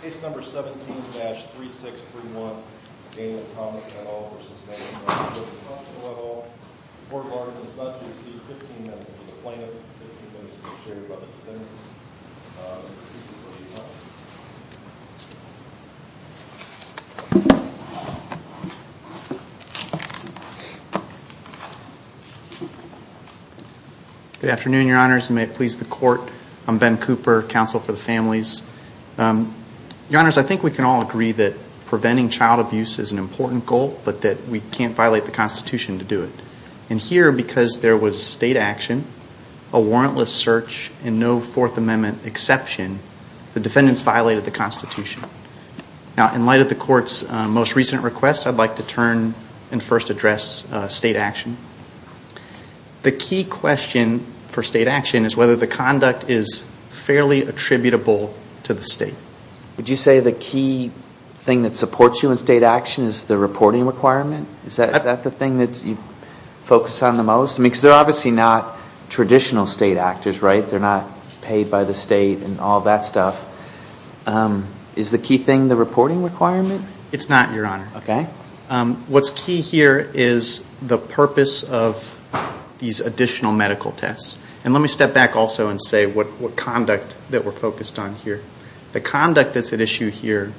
Case No. 17-3631 Daniel Thomas et al. v. Nationwide Children's Hospital et al. Court ordered that the judge receive 15 minutes to explain it, 15 minutes to be shared by the defendants. Excuse me for a few minutes. Good afternoon, your honors, and may it please the court. I'm Ben Cooper, counsel for the families. Your honors, I think we can all agree that preventing child abuse is an important goal, but that we can't violate the Constitution to do it. And here, because there was state action, a warrantless search, and no Fourth Amendment exception, the defendants violated the Constitution. Now, in light of the court's most recent request, I'd like to turn and first address state action. The key question for state action is whether the conduct is fairly attributable to the state. Would you say the key thing that supports you in state action is the reporting requirement? Is that the thing that you focus on the most? Because they're obviously not traditional state actors, right? They're not paid by the state and all that stuff. Is the key thing the reporting requirement? It's not, your honor. Okay. What's key here is the purpose of these additional medical tests. And let me step back also and say what conduct that we're focused on here. The conduct that's at issue here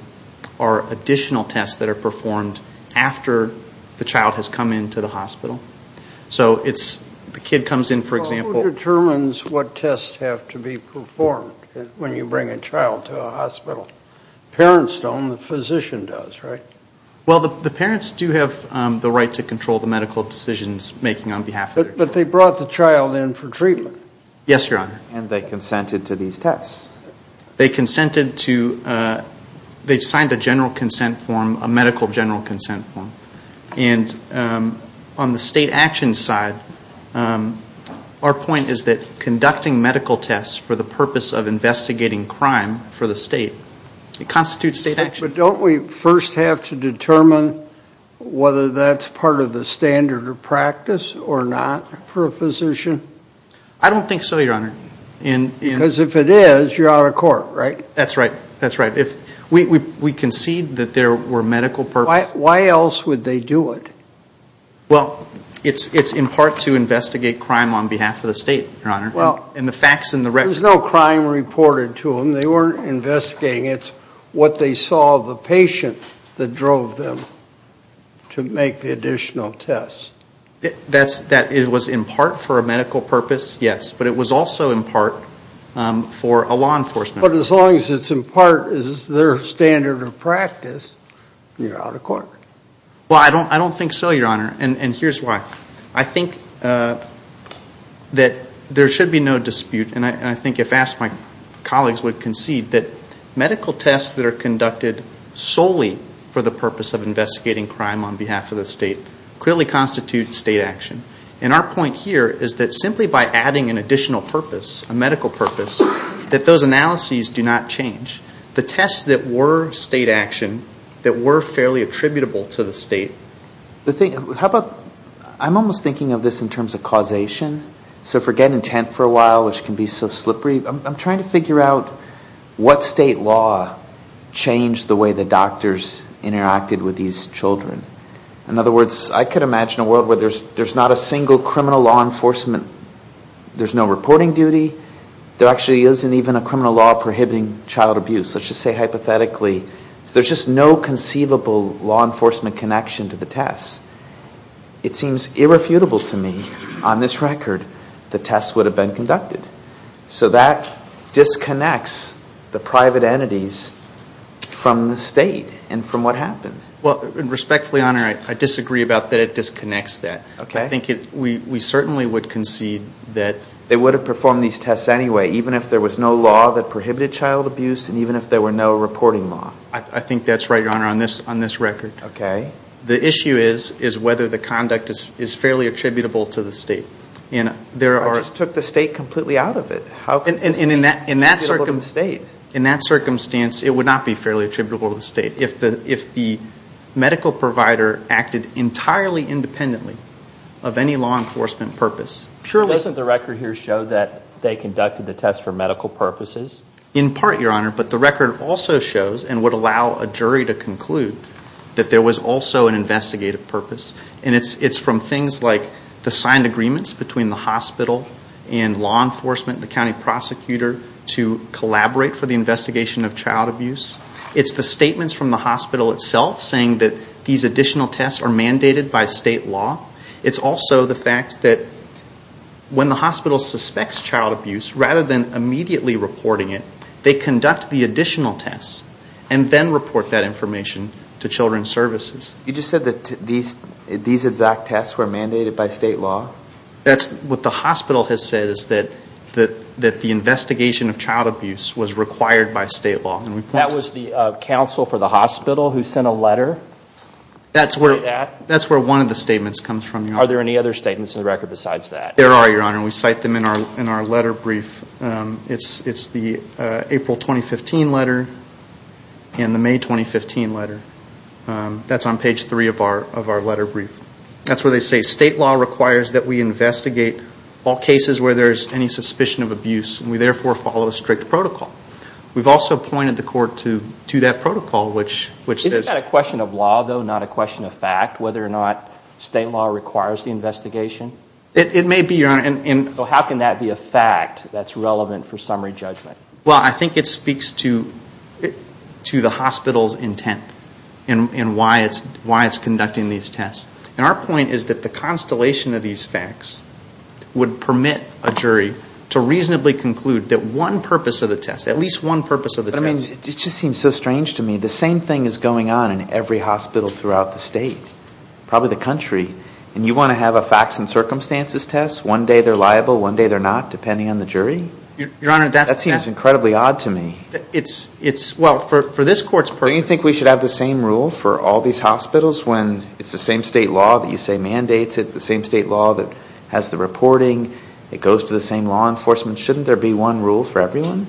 are additional tests that are performed after the child has come into the hospital. So it's the kid comes in, for example. Well, who determines what tests have to be performed when you bring a child to a hospital? Parents don't. The physician does, right? Well, the parents do have the right to control the medical decisions making on behalf of their child. But they brought the child in for treatment. Yes, your honor. And they consented to these tests. They consented to they signed a general consent form, a medical general consent form. And on the state action side, our point is that conducting medical tests for the purpose of investigating crime for the state, it constitutes state action. But don't we first have to determine whether that's part of the standard of practice or not for a physician? I don't think so, your honor. Because if it is, you're out of court, right? That's right. That's right. We concede that there were medical purposes. Why else would they do it? Well, it's in part to investigate crime on behalf of the state, your honor. And the facts and the records. There's no crime reported to them. They weren't investigating it. It's what they saw of the patient that drove them to make the additional tests. That it was in part for a medical purpose, yes. But it was also in part for a law enforcement. But as long as it's in part as their standard of practice, you're out of court. Well, I don't think so, your honor. And here's why. I think that there should be no dispute. And I think if asked, my colleagues would concede that medical tests that are conducted solely for the purpose of investigating crime on behalf of the state clearly constitute state action. And our point here is that simply by adding an additional purpose, a medical purpose, that those analyses do not change. The tests that were state action, that were fairly attributable to the state. The thing, how about, I'm almost thinking of this in terms of causation. So forget intent for a while, which can be so slippery. I'm trying to figure out what state law changed the way the doctors interacted with these children. In other words, I could imagine a world where there's not a single criminal law enforcement. There's no reporting duty. There actually isn't even a criminal law prohibiting child abuse. Let's just say hypothetically, there's just no conceivable law enforcement connection to the tests. It seems irrefutable to me, on this record, the tests would have been conducted. So that disconnects the private entities from the state and from what happened. Well, respectfully, Your Honor, I disagree about that it disconnects that. Okay. I think we certainly would concede that. They would have performed these tests anyway, even if there was no law that prohibited child abuse and even if there were no reporting law. I think that's right, Your Honor, on this record. Okay. The issue is whether the conduct is fairly attributable to the state. I just took the state completely out of it. And in that circumstance, it would not be fairly attributable to the state. If the medical provider acted entirely independently of any law enforcement purpose. Doesn't the record here show that they conducted the tests for medical purposes? In part, Your Honor, but the record also shows and would allow a jury to conclude that there was also an investigative purpose. And it's from things like the signed agreements between the hospital and law enforcement, the county prosecutor, to collaborate for the investigation of child abuse. It's the statements from the hospital itself saying that these additional tests are mandated by state law. It's also the fact that when the hospital suspects child abuse, rather than immediately reporting it, they conduct the additional tests and then report that information to Children's Services. You just said that these exact tests were mandated by state law? That's what the hospital has said is that the investigation of child abuse was required by state law. That was the counsel for the hospital who sent a letter? That's where one of the statements comes from, Your Honor. Are there any other statements in the record besides that? There are, Your Honor. We cite them in our letter brief. It's the April 2015 letter and the May 2015 letter. That's on page three of our letter brief. That's where they say state law requires that we investigate all cases where there is any suspicion of abuse. We therefore follow a strict protocol. We've also pointed the court to that protocol, which says— Isn't that a question of law, though, not a question of fact, whether or not state law requires the investigation? It may be, Your Honor. So how can that be a fact that's relevant for summary judgment? Well, I think it speaks to the hospital's intent and why it's conducting these tests. And our point is that the constellation of these facts would permit a jury to reasonably conclude that one purpose of the test, at least one purpose of the test— But, I mean, it just seems so strange to me. The same thing is going on in every hospital throughout the state, probably the country, and you want to have a facts and circumstances test? One day they're liable, one day they're not, depending on the jury? Your Honor, that's— That seems incredibly odd to me. It's—well, for this court's purpose— So you think we should have the same rule for all these hospitals when it's the same state law that you say mandates it, the same state law that has the reporting, it goes to the same law enforcement? Shouldn't there be one rule for everyone?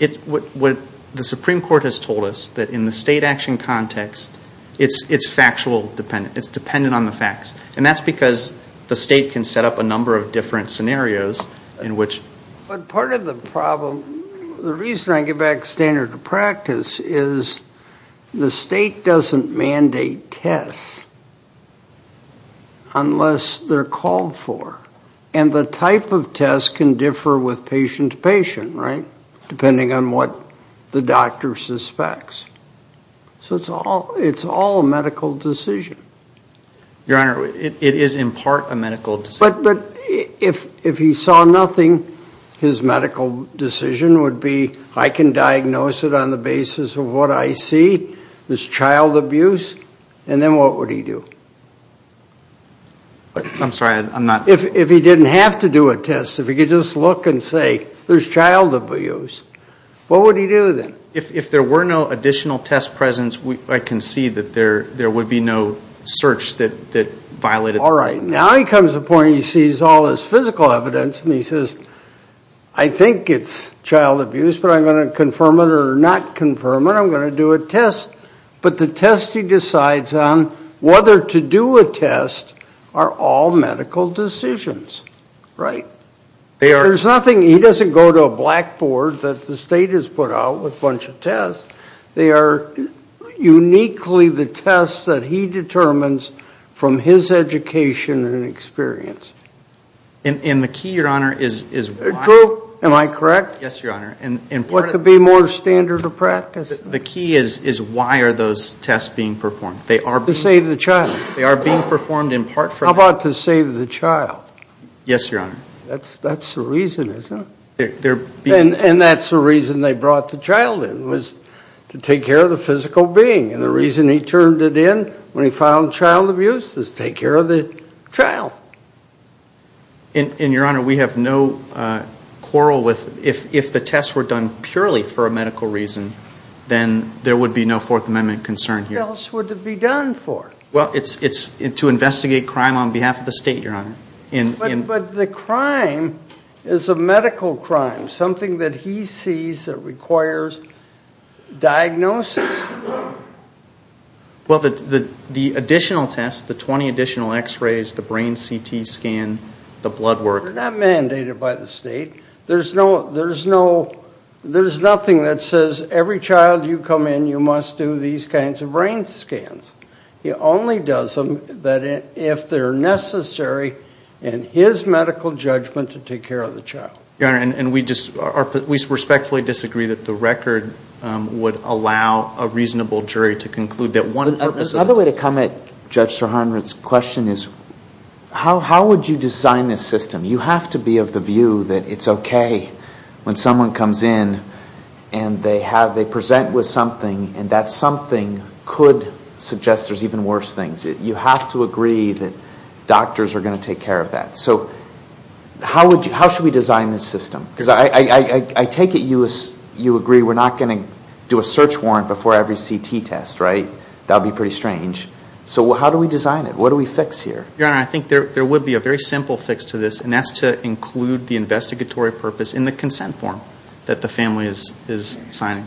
It—what the Supreme Court has told us, that in the state action context, it's factual dependent. It's dependent on the facts. And that's because the state can set up a number of different scenarios in which— But part of the problem—the reason I give back standard of practice is the state doesn't mandate tests unless they're called for. And the type of test can differ with patient to patient, right, depending on what the doctor suspects. So it's all a medical decision. Your Honor, it is in part a medical decision. But if he saw nothing, his medical decision would be, I can diagnose it on the basis of what I see. There's child abuse. And then what would he do? I'm sorry, I'm not— If he didn't have to do a test, if he could just look and say, there's child abuse, what would he do then? If there were no additional test presence, I can see that there would be no search that violated— All right, now he comes to the point where he sees all this physical evidence and he says, I think it's child abuse, but I'm going to confirm it or not confirm it. I'm going to do a test. But the test he decides on, whether to do a test, are all medical decisions, right? There's nothing—he doesn't go to a blackboard that the state has put out with a bunch of tests. They are uniquely the tests that he determines from his education and experience. And the key, Your Honor, is— Drew, am I correct? Yes, Your Honor. What could be more standard of practice? The key is why are those tests being performed? To save the child. They are being performed in part for— How about to save the child? Yes, Your Honor. That's the reason, isn't it? And that's the reason they brought the child in, was to take care of the physical being. And the reason he turned it in when he found child abuse is to take care of the child. And, Your Honor, we have no quarrel with—if the tests were done purely for a medical reason, then there would be no Fourth Amendment concern here. What else would it be done for? Well, it's to investigate crime on behalf of the state, Your Honor. But the crime is a medical crime, something that he sees that requires diagnosis. Well, the additional tests, the 20 additional x-rays, the brain CT scan, the blood work— They're not mandated by the state. There's nothing that says every child you come in, you must do these kinds of brain scans. He only does them if they're necessary in his medical judgment to take care of the child. Your Honor, we respectfully disagree that the record would allow a reasonable jury to conclude that one purpose— Another way to come at Judge Sirhan Ritz's question is, how would you design this system? You have to be of the view that it's okay when someone comes in and they present with something and that something could suggest there's even worse things. You have to agree that doctors are going to take care of that. So how should we design this system? Because I take it you agree we're not going to do a search warrant before every CT test, right? That would be pretty strange. So how do we design it? What do we fix here? Your Honor, I think there would be a very simple fix to this, and that's to include the investigatory purpose in the consent form that the family is signing.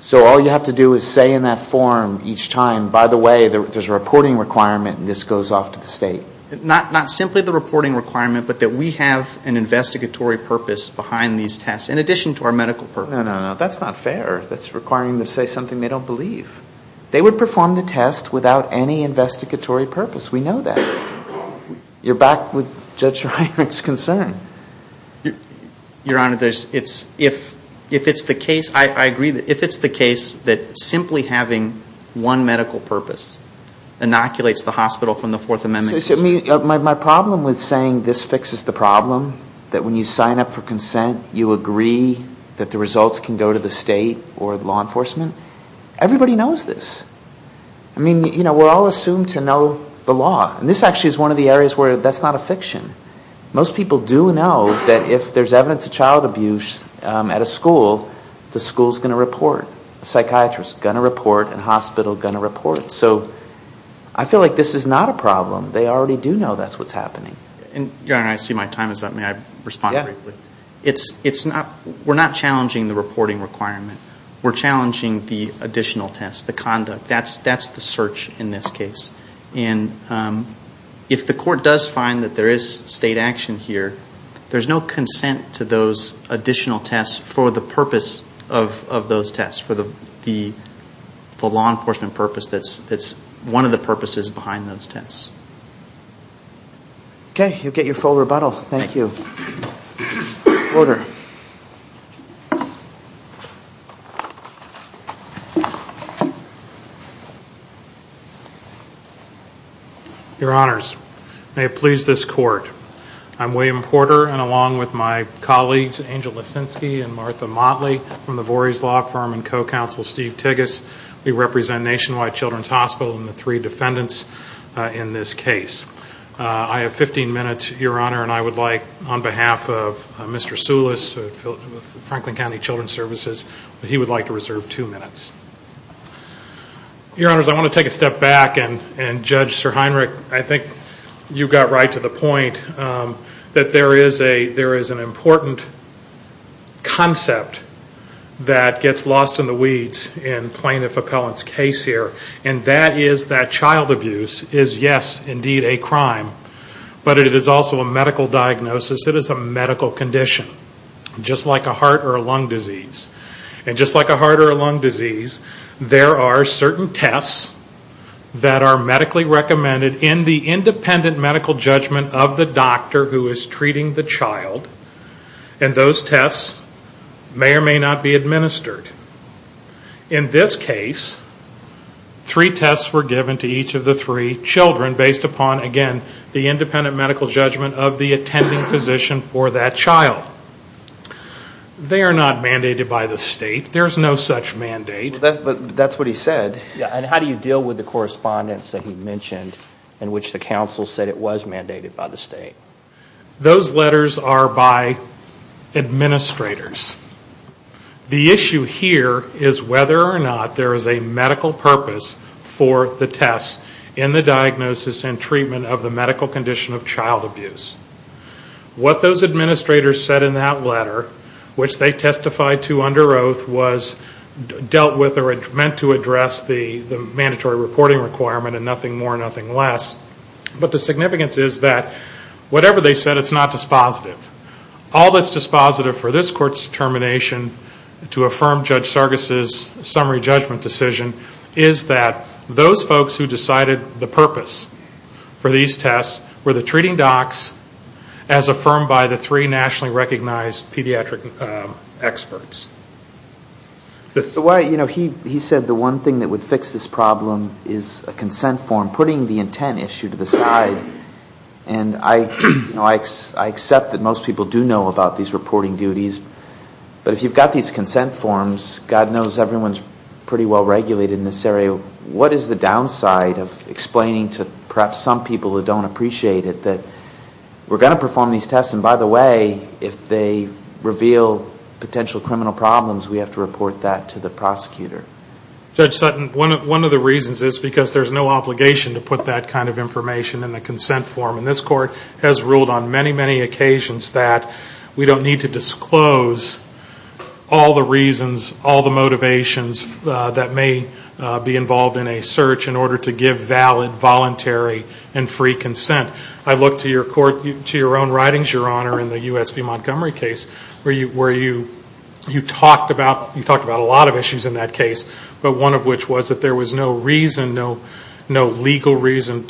So all you have to do is say in that form each time, by the way, there's a reporting requirement and this goes off to the state? Not simply the reporting requirement, but that we have an investigatory purpose behind these tests in addition to our medical purpose. No, no, no. That's not fair. That's requiring them to say something they don't believe. They would perform the test without any investigatory purpose. You're back with Judge Sirhan Ritz's concern. Your Honor, if it's the case, I agree, if it's the case that simply having one medical purpose inoculates the hospital from the Fourth Amendment... My problem with saying this fixes the problem, that when you sign up for consent you agree that the results can go to the state or law enforcement, everybody knows this. I mean, you know, we're all assumed to know the law. And this actually is one of the areas where that's not a fiction. Most people do know that if there's evidence of child abuse at a school, the school's going to report. Psychiatrists are going to report and hospitals are going to report. So I feel like this is not a problem. They already do know that's what's happening. Your Honor, I see my time is up. May I respond briefly? Yeah. We're not challenging the reporting requirement. We're challenging the additional test, the conduct. That's the search in this case. And if the court does find that there is state action here, there's no consent to those additional tests for the purpose of those tests, for the law enforcement purpose that's one of the purposes behind those tests. Okay. You get your full rebuttal. Thank you. Order. Your Honors, may it please this court, I'm William Porter and along with my colleagues, Angel Lissinsky and Martha Motley from the Voorhees Law Firm and co-counsel Steve Tigges. We represent Nationwide Children's Hospital and the three defendants in this case. I have 15 minutes, Your Honor, and I would like on behalf of Mr. Sulis of Franklin County Children's Services, he would like to reserve two minutes. Your Honors, I want to take a step back and Judge SirHeinrich, I think you got right to the point that there is an important concept that gets lost in the weeds in Plaintiff Appellant's case here, and that is that child abuse is, yes, indeed a crime, but it is also a medical diagnosis. It is a medical condition, just like a heart or a lung disease. And just like a heart or a lung disease, there are certain tests that are medically recommended in the independent medical judgment of the doctor who is treating the child, and those tests may or may not be administered. In this case, three tests were given to each of the three children based upon, again, the independent medical judgment of the attending physician for that child. They are not mandated by the state. There is no such mandate. But that's what he said. And how do you deal with the correspondence that he mentioned in which the counsel said it was mandated by the state? Those letters are by administrators. The issue here is whether or not there is a medical purpose for the tests in the diagnosis and treatment of the medical condition of child abuse. What those administrators said in that letter, which they testified to under oath, was dealt with or meant to address the mandatory reporting requirement and nothing more, nothing less. But the significance is that whatever they said, it's not dispositive. All that's dispositive for this court's determination to affirm Judge Sargas' summary judgment decision is that those folks who decided the purpose for these tests were the treating docs as affirmed by the three nationally recognized pediatric experts. He said the one thing that would fix this problem is a consent form, putting the intent issue to the side. And I accept that most people do know about these reporting duties. But if you've got these consent forms, God knows everyone is pretty well regulated in this area. What is the downside of explaining to perhaps some people who don't appreciate it that we're going to perform these tests and, by the way, if they reveal potential criminal problems, we have to report that to the prosecutor? Judge Sutton, one of the reasons is because there's no obligation to put that kind of information in the consent form. And this court has ruled on many, many occasions that we don't need to disclose all the reasons, all the motivations that may be involved in a search in order to give valid, voluntary, and free consent. I look to your own writings, Your Honor, in the U.S. v. Montgomery case where you talked about a lot of issues in that case, but one of which was that there was no reason, no legal reason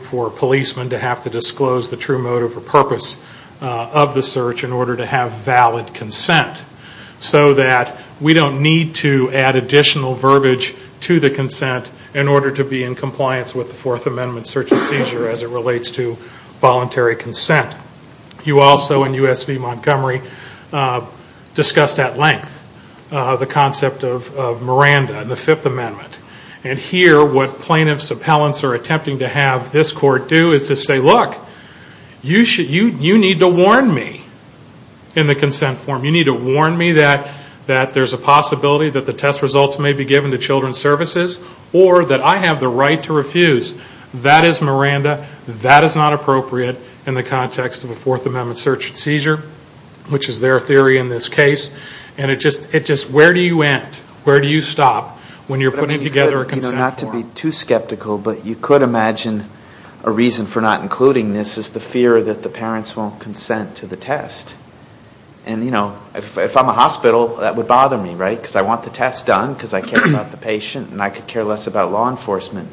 for a policeman to have to disclose the true motive or purpose of the search in order to have valid consent. So that we don't need to add additional verbiage to the consent in order to be in compliance with the Fourth Amendment search and seizure as it relates to voluntary consent. You also, in U.S. v. Montgomery, discussed at length the concept of Miranda in the Fifth Amendment. And here, what plaintiff's appellants are attempting to have this court do is to say, look, you need to warn me in the consent form. You need to warn me that there's a possibility that the test results may be given to Children's Services or that I have the right to refuse. That is Miranda. That is not appropriate in the context of a Fourth Amendment search and seizure, which is their theory in this case. And it just, where do you end? Where do you stop when you're putting together a consent form? Not to be too skeptical, but you could imagine a reason for not including this is the fear that the parents won't consent to the test. And, you know, if I'm a hospital, that would bother me, right? Because I want the test done because I care about the patient and I could care less about law enforcement.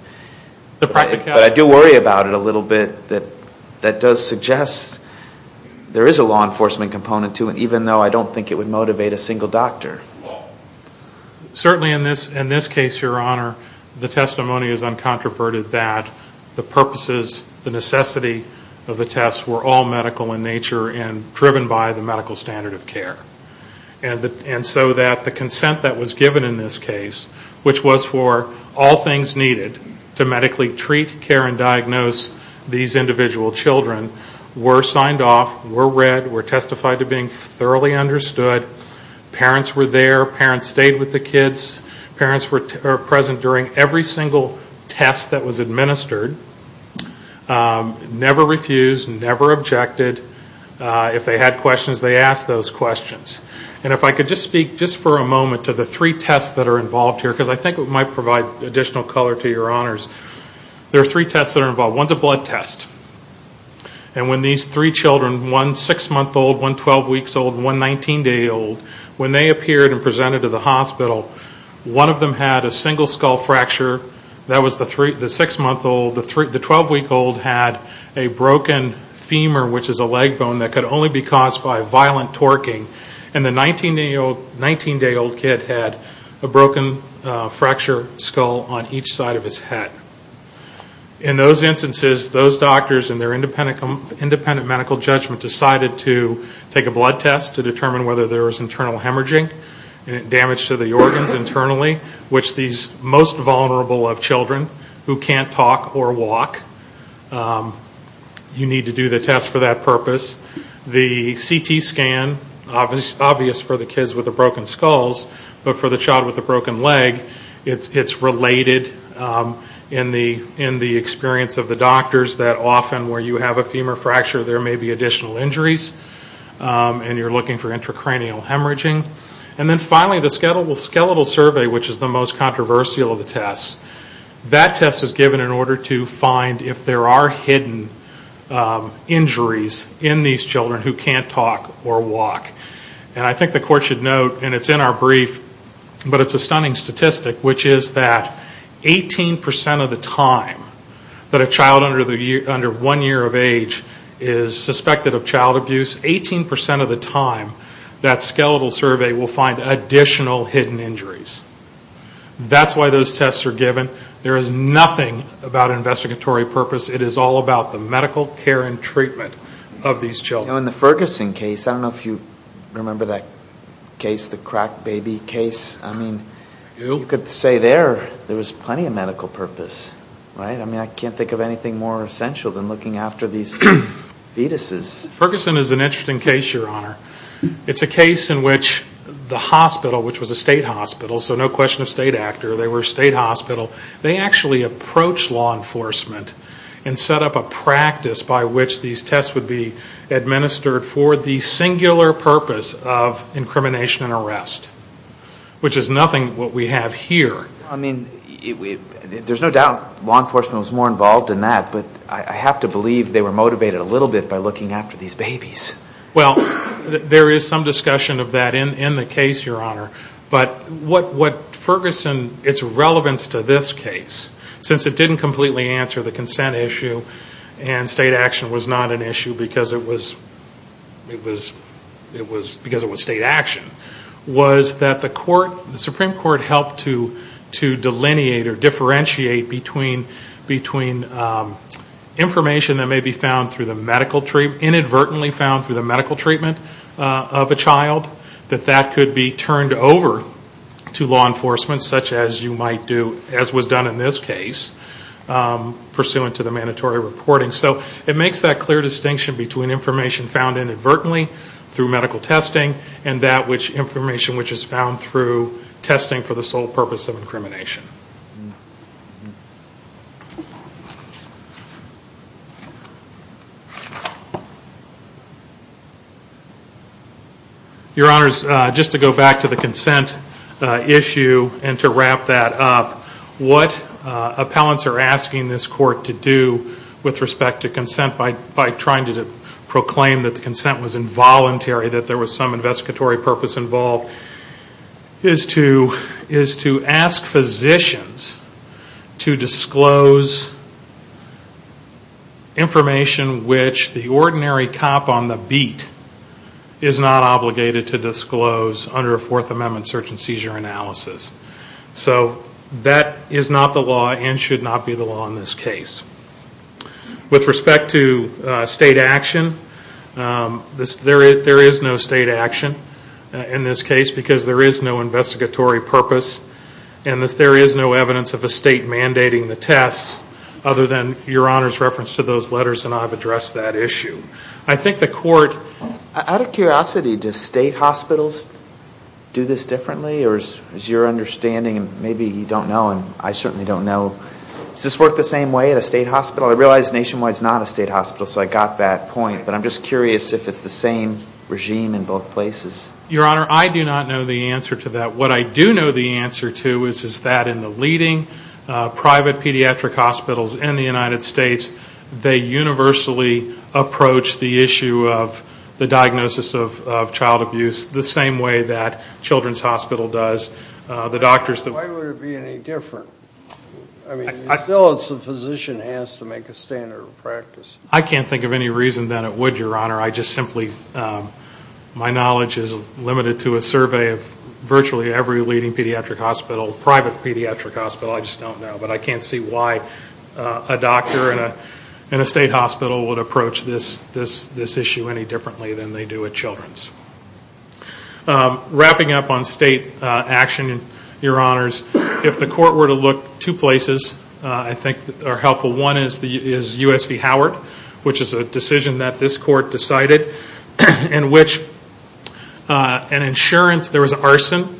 But I do worry about it a little bit. That does suggest there is a law enforcement component to it, even though I don't think it would motivate a single doctor. Certainly in this case, Your Honor, the testimony is uncontroverted that the purposes, the necessity of the test were all medical in nature and driven by the medical standard of care. And so that the consent that was given in this case, which was for all things needed to medically treat, care, and diagnose these individual children, were signed off, were read, were testified to being thoroughly understood. Parents were there. Parents stayed with the kids. Parents were present during every single test that was administered. Never refused, never objected. If they had questions, they asked those questions. And if I could just speak just for a moment to the three tests that are involved here, because I think it might provide additional color to Your Honors. There are three tests that are involved. One is a blood test. And when these three children, one 6-month-old, one 12-weeks-old, and one 19-day-old, when they appeared and presented to the hospital, one of them had a single skull fracture. That was the 6-month-old. The 12-week-old had a broken femur, which is a leg bone, that could only be caused by violent torquing. And the 19-day-old kid had a broken fracture skull on each side of his head. In those instances, those doctors, in their independent medical judgment, decided to take a blood test to determine whether there was internal hemorrhaging, damage to the organs internally, which these most vulnerable of children who can't talk or walk, you need to do the test for that purpose. The CT scan, obvious for the kids with the broken skulls, but for the child with the broken leg, it's related in the experience of the doctors that often, where you have a femur fracture, there may be additional injuries, and you're looking for intracranial hemorrhaging. And then finally, the skeletal survey, which is the most controversial of the tests, that test is given in order to find if there are hidden injuries in these children who can't talk or walk. And I think the court should note, and it's in our brief, but it's a stunning statistic, which is that 18% of the time that a child under one year of age is suspected of child abuse, 18% of the time that skeletal survey will find additional hidden injuries. That's why those tests are given. There is nothing about investigatory purpose. It is all about the medical care and treatment of these children. In the Ferguson case, I don't know if you remember that case, the cracked baby case. I mean, you could say there, there was plenty of medical purpose, right? I mean, I can't think of anything more essential than looking after these fetuses. Ferguson is an interesting case, Your Honor. It's a case in which the hospital, which was a state hospital, so no question of state actor, they were a state hospital. They actually approached law enforcement and set up a practice by which these tests would be administered for the singular purpose of incrimination and arrest, which is nothing what we have here. I mean, there's no doubt law enforcement was more involved in that, but I have to believe they were motivated a little bit by looking after these babies. Well, there is some discussion of that in the case, Your Honor. But what Ferguson, its relevance to this case, since it didn't completely answer the consent issue and state action was not an issue because it was state action, was that the Supreme Court helped to delineate or differentiate between information that may be found through the medical treatment, inadvertently found through the medical treatment of a child, that that could be turned over to law enforcement, such as you might do, as was done in this case, pursuant to the mandatory reporting. So it makes that clear distinction between information found inadvertently through medical testing and that which information which is found through testing for the sole purpose of incrimination. Your Honors, just to go back to the consent issue and to wrap that up, what appellants are asking this court to do with respect to consent by trying to proclaim that the consent was involuntary, that there was some investigatory purpose involved, is to ask physicians to disclose information which the ordinary cop on the beat is not obligated to disclose under a Fourth Amendment search and seizure analysis. So that is not the law and should not be the law in this case. With respect to state action, there is no state action in this case because there is no investigatory purpose and there is no evidence of a state mandating the tests other than Your Honors' reference to those letters and I've addressed that issue. I think the court... Out of curiosity, do state hospitals do this differently? Or is your understanding, maybe you don't know and I certainly don't know, does this work the same way at a state hospital? I realize Nationwide is not a state hospital, so I got that point, but I'm just curious if it's the same regime in both places. Your Honor, I do not know the answer to that. What I do know the answer to is that in the leading private pediatric hospitals in the United States, they universally approach the issue of the diagnosis of child abuse the same way that Children's Hospital does, the doctors... Why would it be any different? I mean, I feel it's the physician has to make a standard of practice. I can't think of any reason that it would, Your Honor. I just simply... My knowledge is limited to a survey of virtually every leading pediatric hospital, private pediatric hospital, I just don't know. But I can't see why a doctor in a state hospital would approach this issue any differently than they do at Children's. Wrapping up on state action, Your Honors, if the court were to look, two places I think are helpful. One is U.S. v. Howard, which is a decision that this court decided in which an insurance... There was an arson,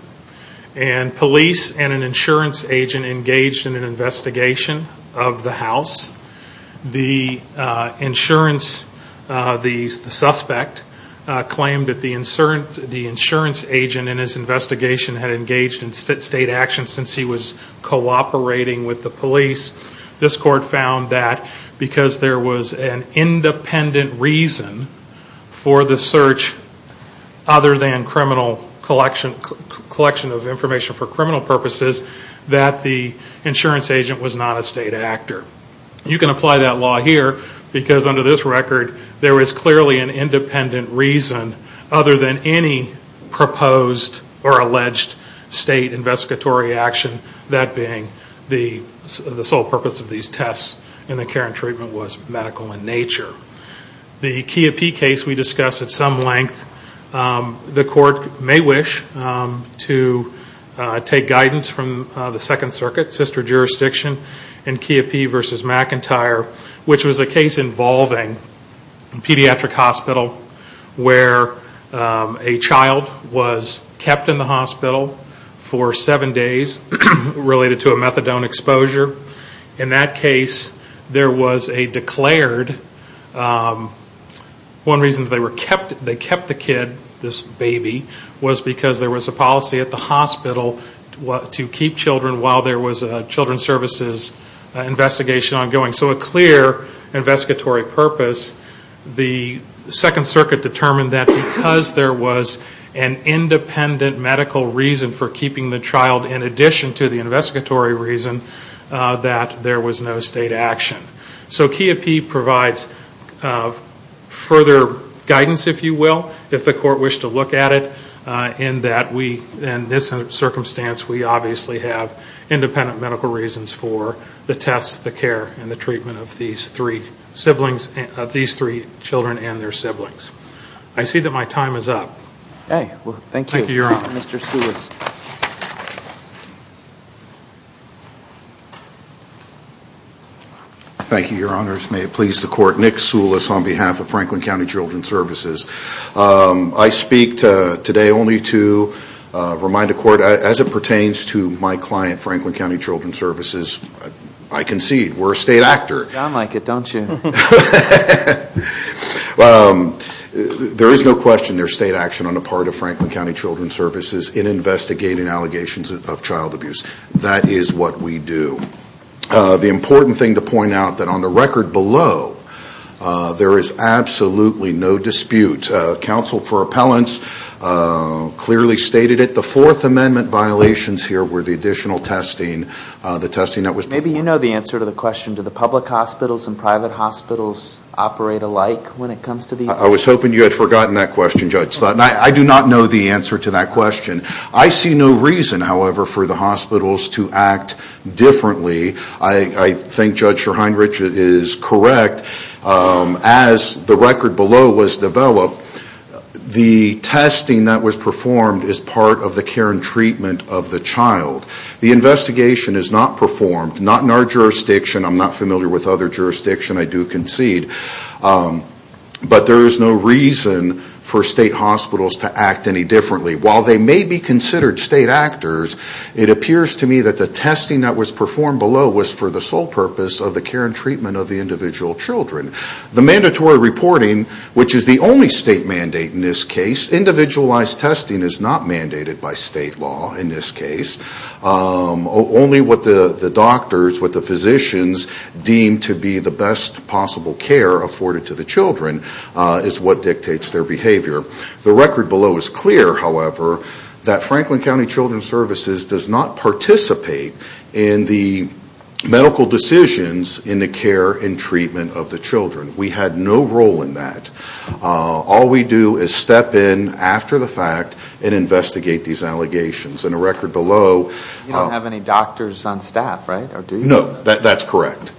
and police and an insurance agent engaged in an investigation of the house. The insurance, the suspect, claimed that the insurance agent in his investigation had engaged in state action since he was cooperating with the police. This court found that because there was an independent reason for the search other than criminal collection of information for criminal purposes, that the insurance agent was not a state actor. You can apply that law here, because under this record, there is clearly an independent reason other than any proposed or alleged state investigatory action, that being the sole purpose of these tests and the care and treatment was medical in nature. The Kiappi case we discussed at some length. The court may wish to take guidance from the Second Circuit, sister jurisdiction, in Kiappi v. McIntyre, which was a case involving a pediatric hospital where a child was kept in the hospital for seven days related to a methadone exposure. In that case, there was a declared... One reason they kept the kid, this baby, was because there was a policy at the hospital to keep children while there was a children's services investigation ongoing. So a clear investigatory purpose. The Second Circuit determined that because there was an independent medical reason for keeping the child in addition to the investigatory reason, that there was no state action. So Kiappi provides further guidance, if you will, if the court wished to look at it, in that we, in this circumstance, we obviously have independent medical reasons for the tests, the care, and the treatment of these three children and their siblings. I see that my time is up. Okay. Well, thank you. Thank you, Your Honor. Mr. Sulis. Thank you, Your Honors. May it please the court, Nick Sulis on behalf of Franklin County Children's Services. I speak today only to remind the court, as it pertains to my client, Franklin County Children's Services, I concede we're a state actor. You sound like it, don't you? There is no question there's state action on the part of Franklin County Children's Services in investigating allegations of child abuse. That is what we do. The important thing to point out, that on the record below, there is absolutely no dispute. Counsel for appellants clearly stated it. The Fourth Amendment violations here were the additional testing, the testing that was before. Maybe you know the answer to the question, do the public hospitals and private hospitals operate alike when it comes to these? I was hoping you had forgotten that question, Judge Slotin. I do not know the answer to that question. I see no reason, however, for the hospitals to act differently. I think Judge Schorheinrich is correct. As the record below was developed, the testing that was performed is part of the care and treatment of the child. The investigation is not performed, not in our jurisdiction. I'm not familiar with other jurisdictions. I do concede. But there is no reason for state hospitals to act any differently. While they may be considered state actors, it appears to me that the testing that was performed below was for the sole purpose of the care and treatment of the individual children. The mandatory reporting, which is the only state mandate in this case, individualized testing is not mandated by state law in this case. Only what the doctors, what the physicians deem to be the best possible care afforded to the children is what dictates their behavior. The record below is clear, however, that Franklin County Children's Services does not participate in the medical decisions in the care and treatment of the children. We had no role in that. All we do is step in after the fact and investigate these allegations. In the record below... You don't have any doctors on staff, right? No, that's correct.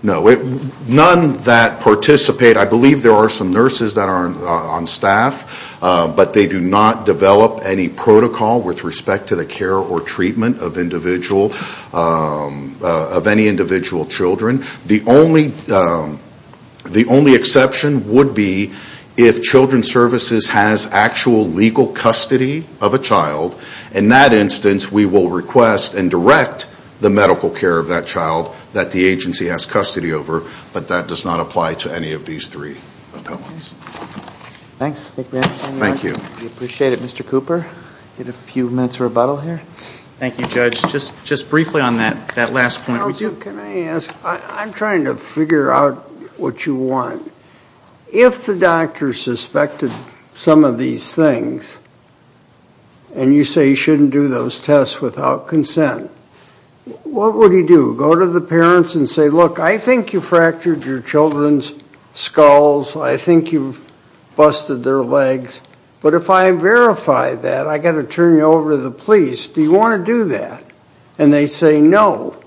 None that participate, I believe there are some nurses that are on staff, but they do not develop any protocol with respect to the care or treatment of any individual children. The only exception would be if Children's Services has actual legal custody of a child. In that instance, we will request and direct the medical care of that child that the agency has custody over, but that does not apply to any of these three appellants. Thanks. Thank you. We appreciate it, Mr. Cooper. We have a few minutes of rebuttal here. Thank you, Judge. Just briefly on that last point. Can I ask? I'm trying to figure out what you want. If the doctor suspected some of these things and you say you shouldn't do those tests without consent, what would he do? Go to the parents and say, look, I think you fractured your children's skulls, I think you've busted their legs, but if I verify that, I've got to turn you over to the police. Do you want to do that? And they say no.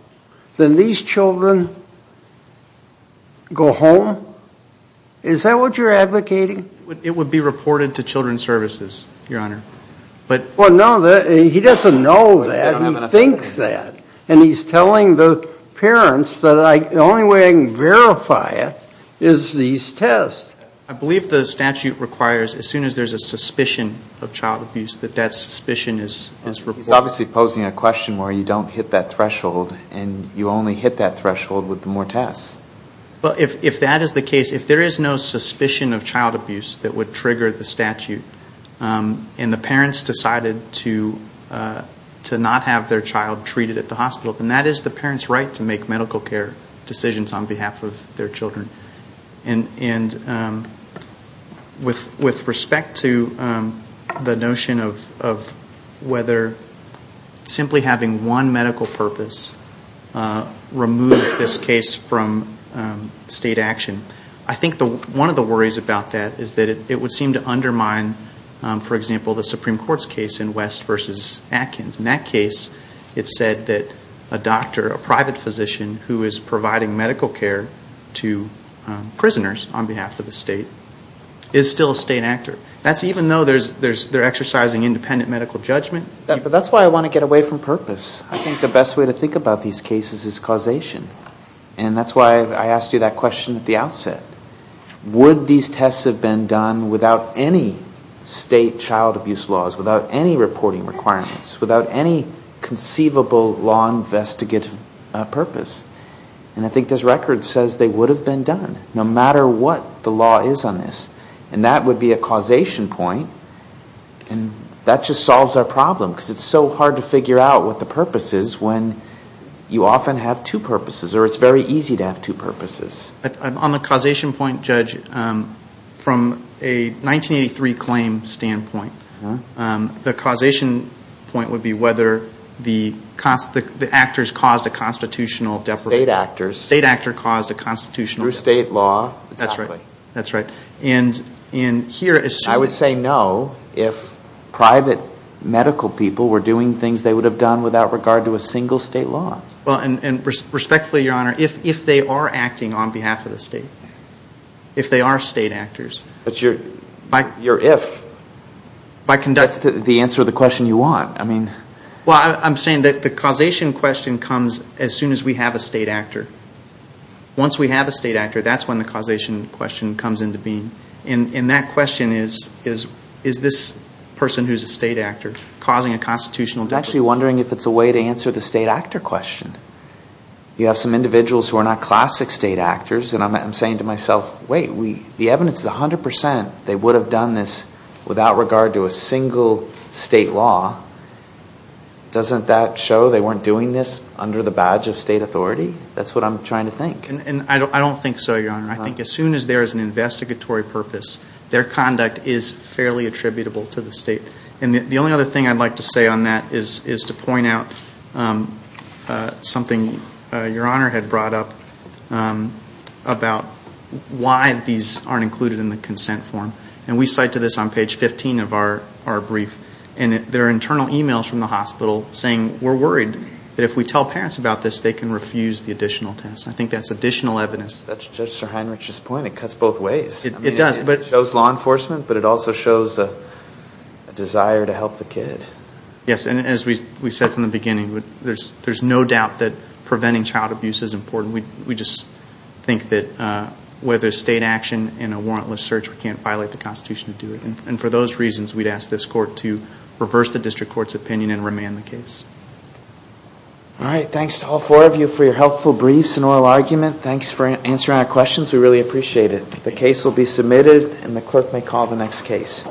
Then these children go home? Is that what you're advocating? It would be reported to Children's Services, Your Honor. Well, no, he doesn't know that. He thinks that. And he's telling the parents that the only way I can verify it is these tests. I believe the statute requires, as soon as there's a suspicion of child abuse, that that suspicion is reported. He's obviously posing a question where you don't hit that threshold, and you only hit that threshold with the more tests. Well, if that is the case, if there is no suspicion of child abuse that would trigger the statute, and the parents decided to not have their child treated at the hospital, then that is the parent's right to make medical care decisions on behalf of their children. And with respect to the notion of whether simply having one medical purpose removes this case from state action, I think one of the worries about that is that it would seem to undermine, for example, the Supreme Court's case in West v. Atkins. In that case, it said that a doctor, a private physician who is providing medical care to prisoners on behalf of the state, is still a state actor. That's even though they're exercising independent medical judgment. But that's why I want to get away from purpose. I think the best way to think about these cases is causation. And that's why I asked you that question at the outset. Would these tests have been done without any state child abuse laws, without any reporting requirements, without any conceivable law investigative purpose? And I think this record says they would have been done, no matter what the law is on this. And that would be a causation point, and that just solves our problem, because it's so hard to figure out what the purpose is when you often have two purposes, On the causation point, Judge, from a 1983 claim standpoint, the causation point would be whether the actors caused a constitutional deprivation. State actors. State actor caused a constitutional deprivation. Through state law. That's right. I would say no if private medical people were doing things they would have done without regard to a single state law. Well, and respectfully, Your Honor, if they are acting on behalf of the state, if they are state actors. But your if. That's the answer to the question you want. Well, I'm saying that the causation question comes as soon as we have a state actor. Once we have a state actor, that's when the causation question comes into being. And that question is, is this person who's a state actor causing a constitutional deprivation? I'm actually wondering if it's a way to answer the state actor question. You have some individuals who are not classic state actors, and I'm saying to myself, wait, the evidence is 100%. They would have done this without regard to a single state law. Doesn't that show they weren't doing this under the badge of state authority? That's what I'm trying to think. And I don't think so, Your Honor. I think as soon as there is an investigatory purpose, their conduct is fairly attributable to the state. And the only other thing I'd like to say on that is to point out something Your Honor had brought up about why these aren't included in the consent form. And we cite to this on page 15 of our brief. And there are internal e-mails from the hospital saying we're worried that if we tell parents about this, they can refuse the additional test. I think that's additional evidence. That's Judge Sir Heinrich's point. It cuts both ways. It does. It shows law enforcement, but it also shows a desire to help the kid. Yes, and as we said from the beginning, there's no doubt that preventing child abuse is important. We just think that whether state action in a warrantless search, we can't violate the Constitution to do it. And for those reasons, we'd ask this court to reverse the district court's opinion and remand the case. All right. Thanks to all four of you for your helpful briefs and oral argument. Thanks for answering our questions. We really appreciate it. The case will be submitted, and the clerk may call the next case.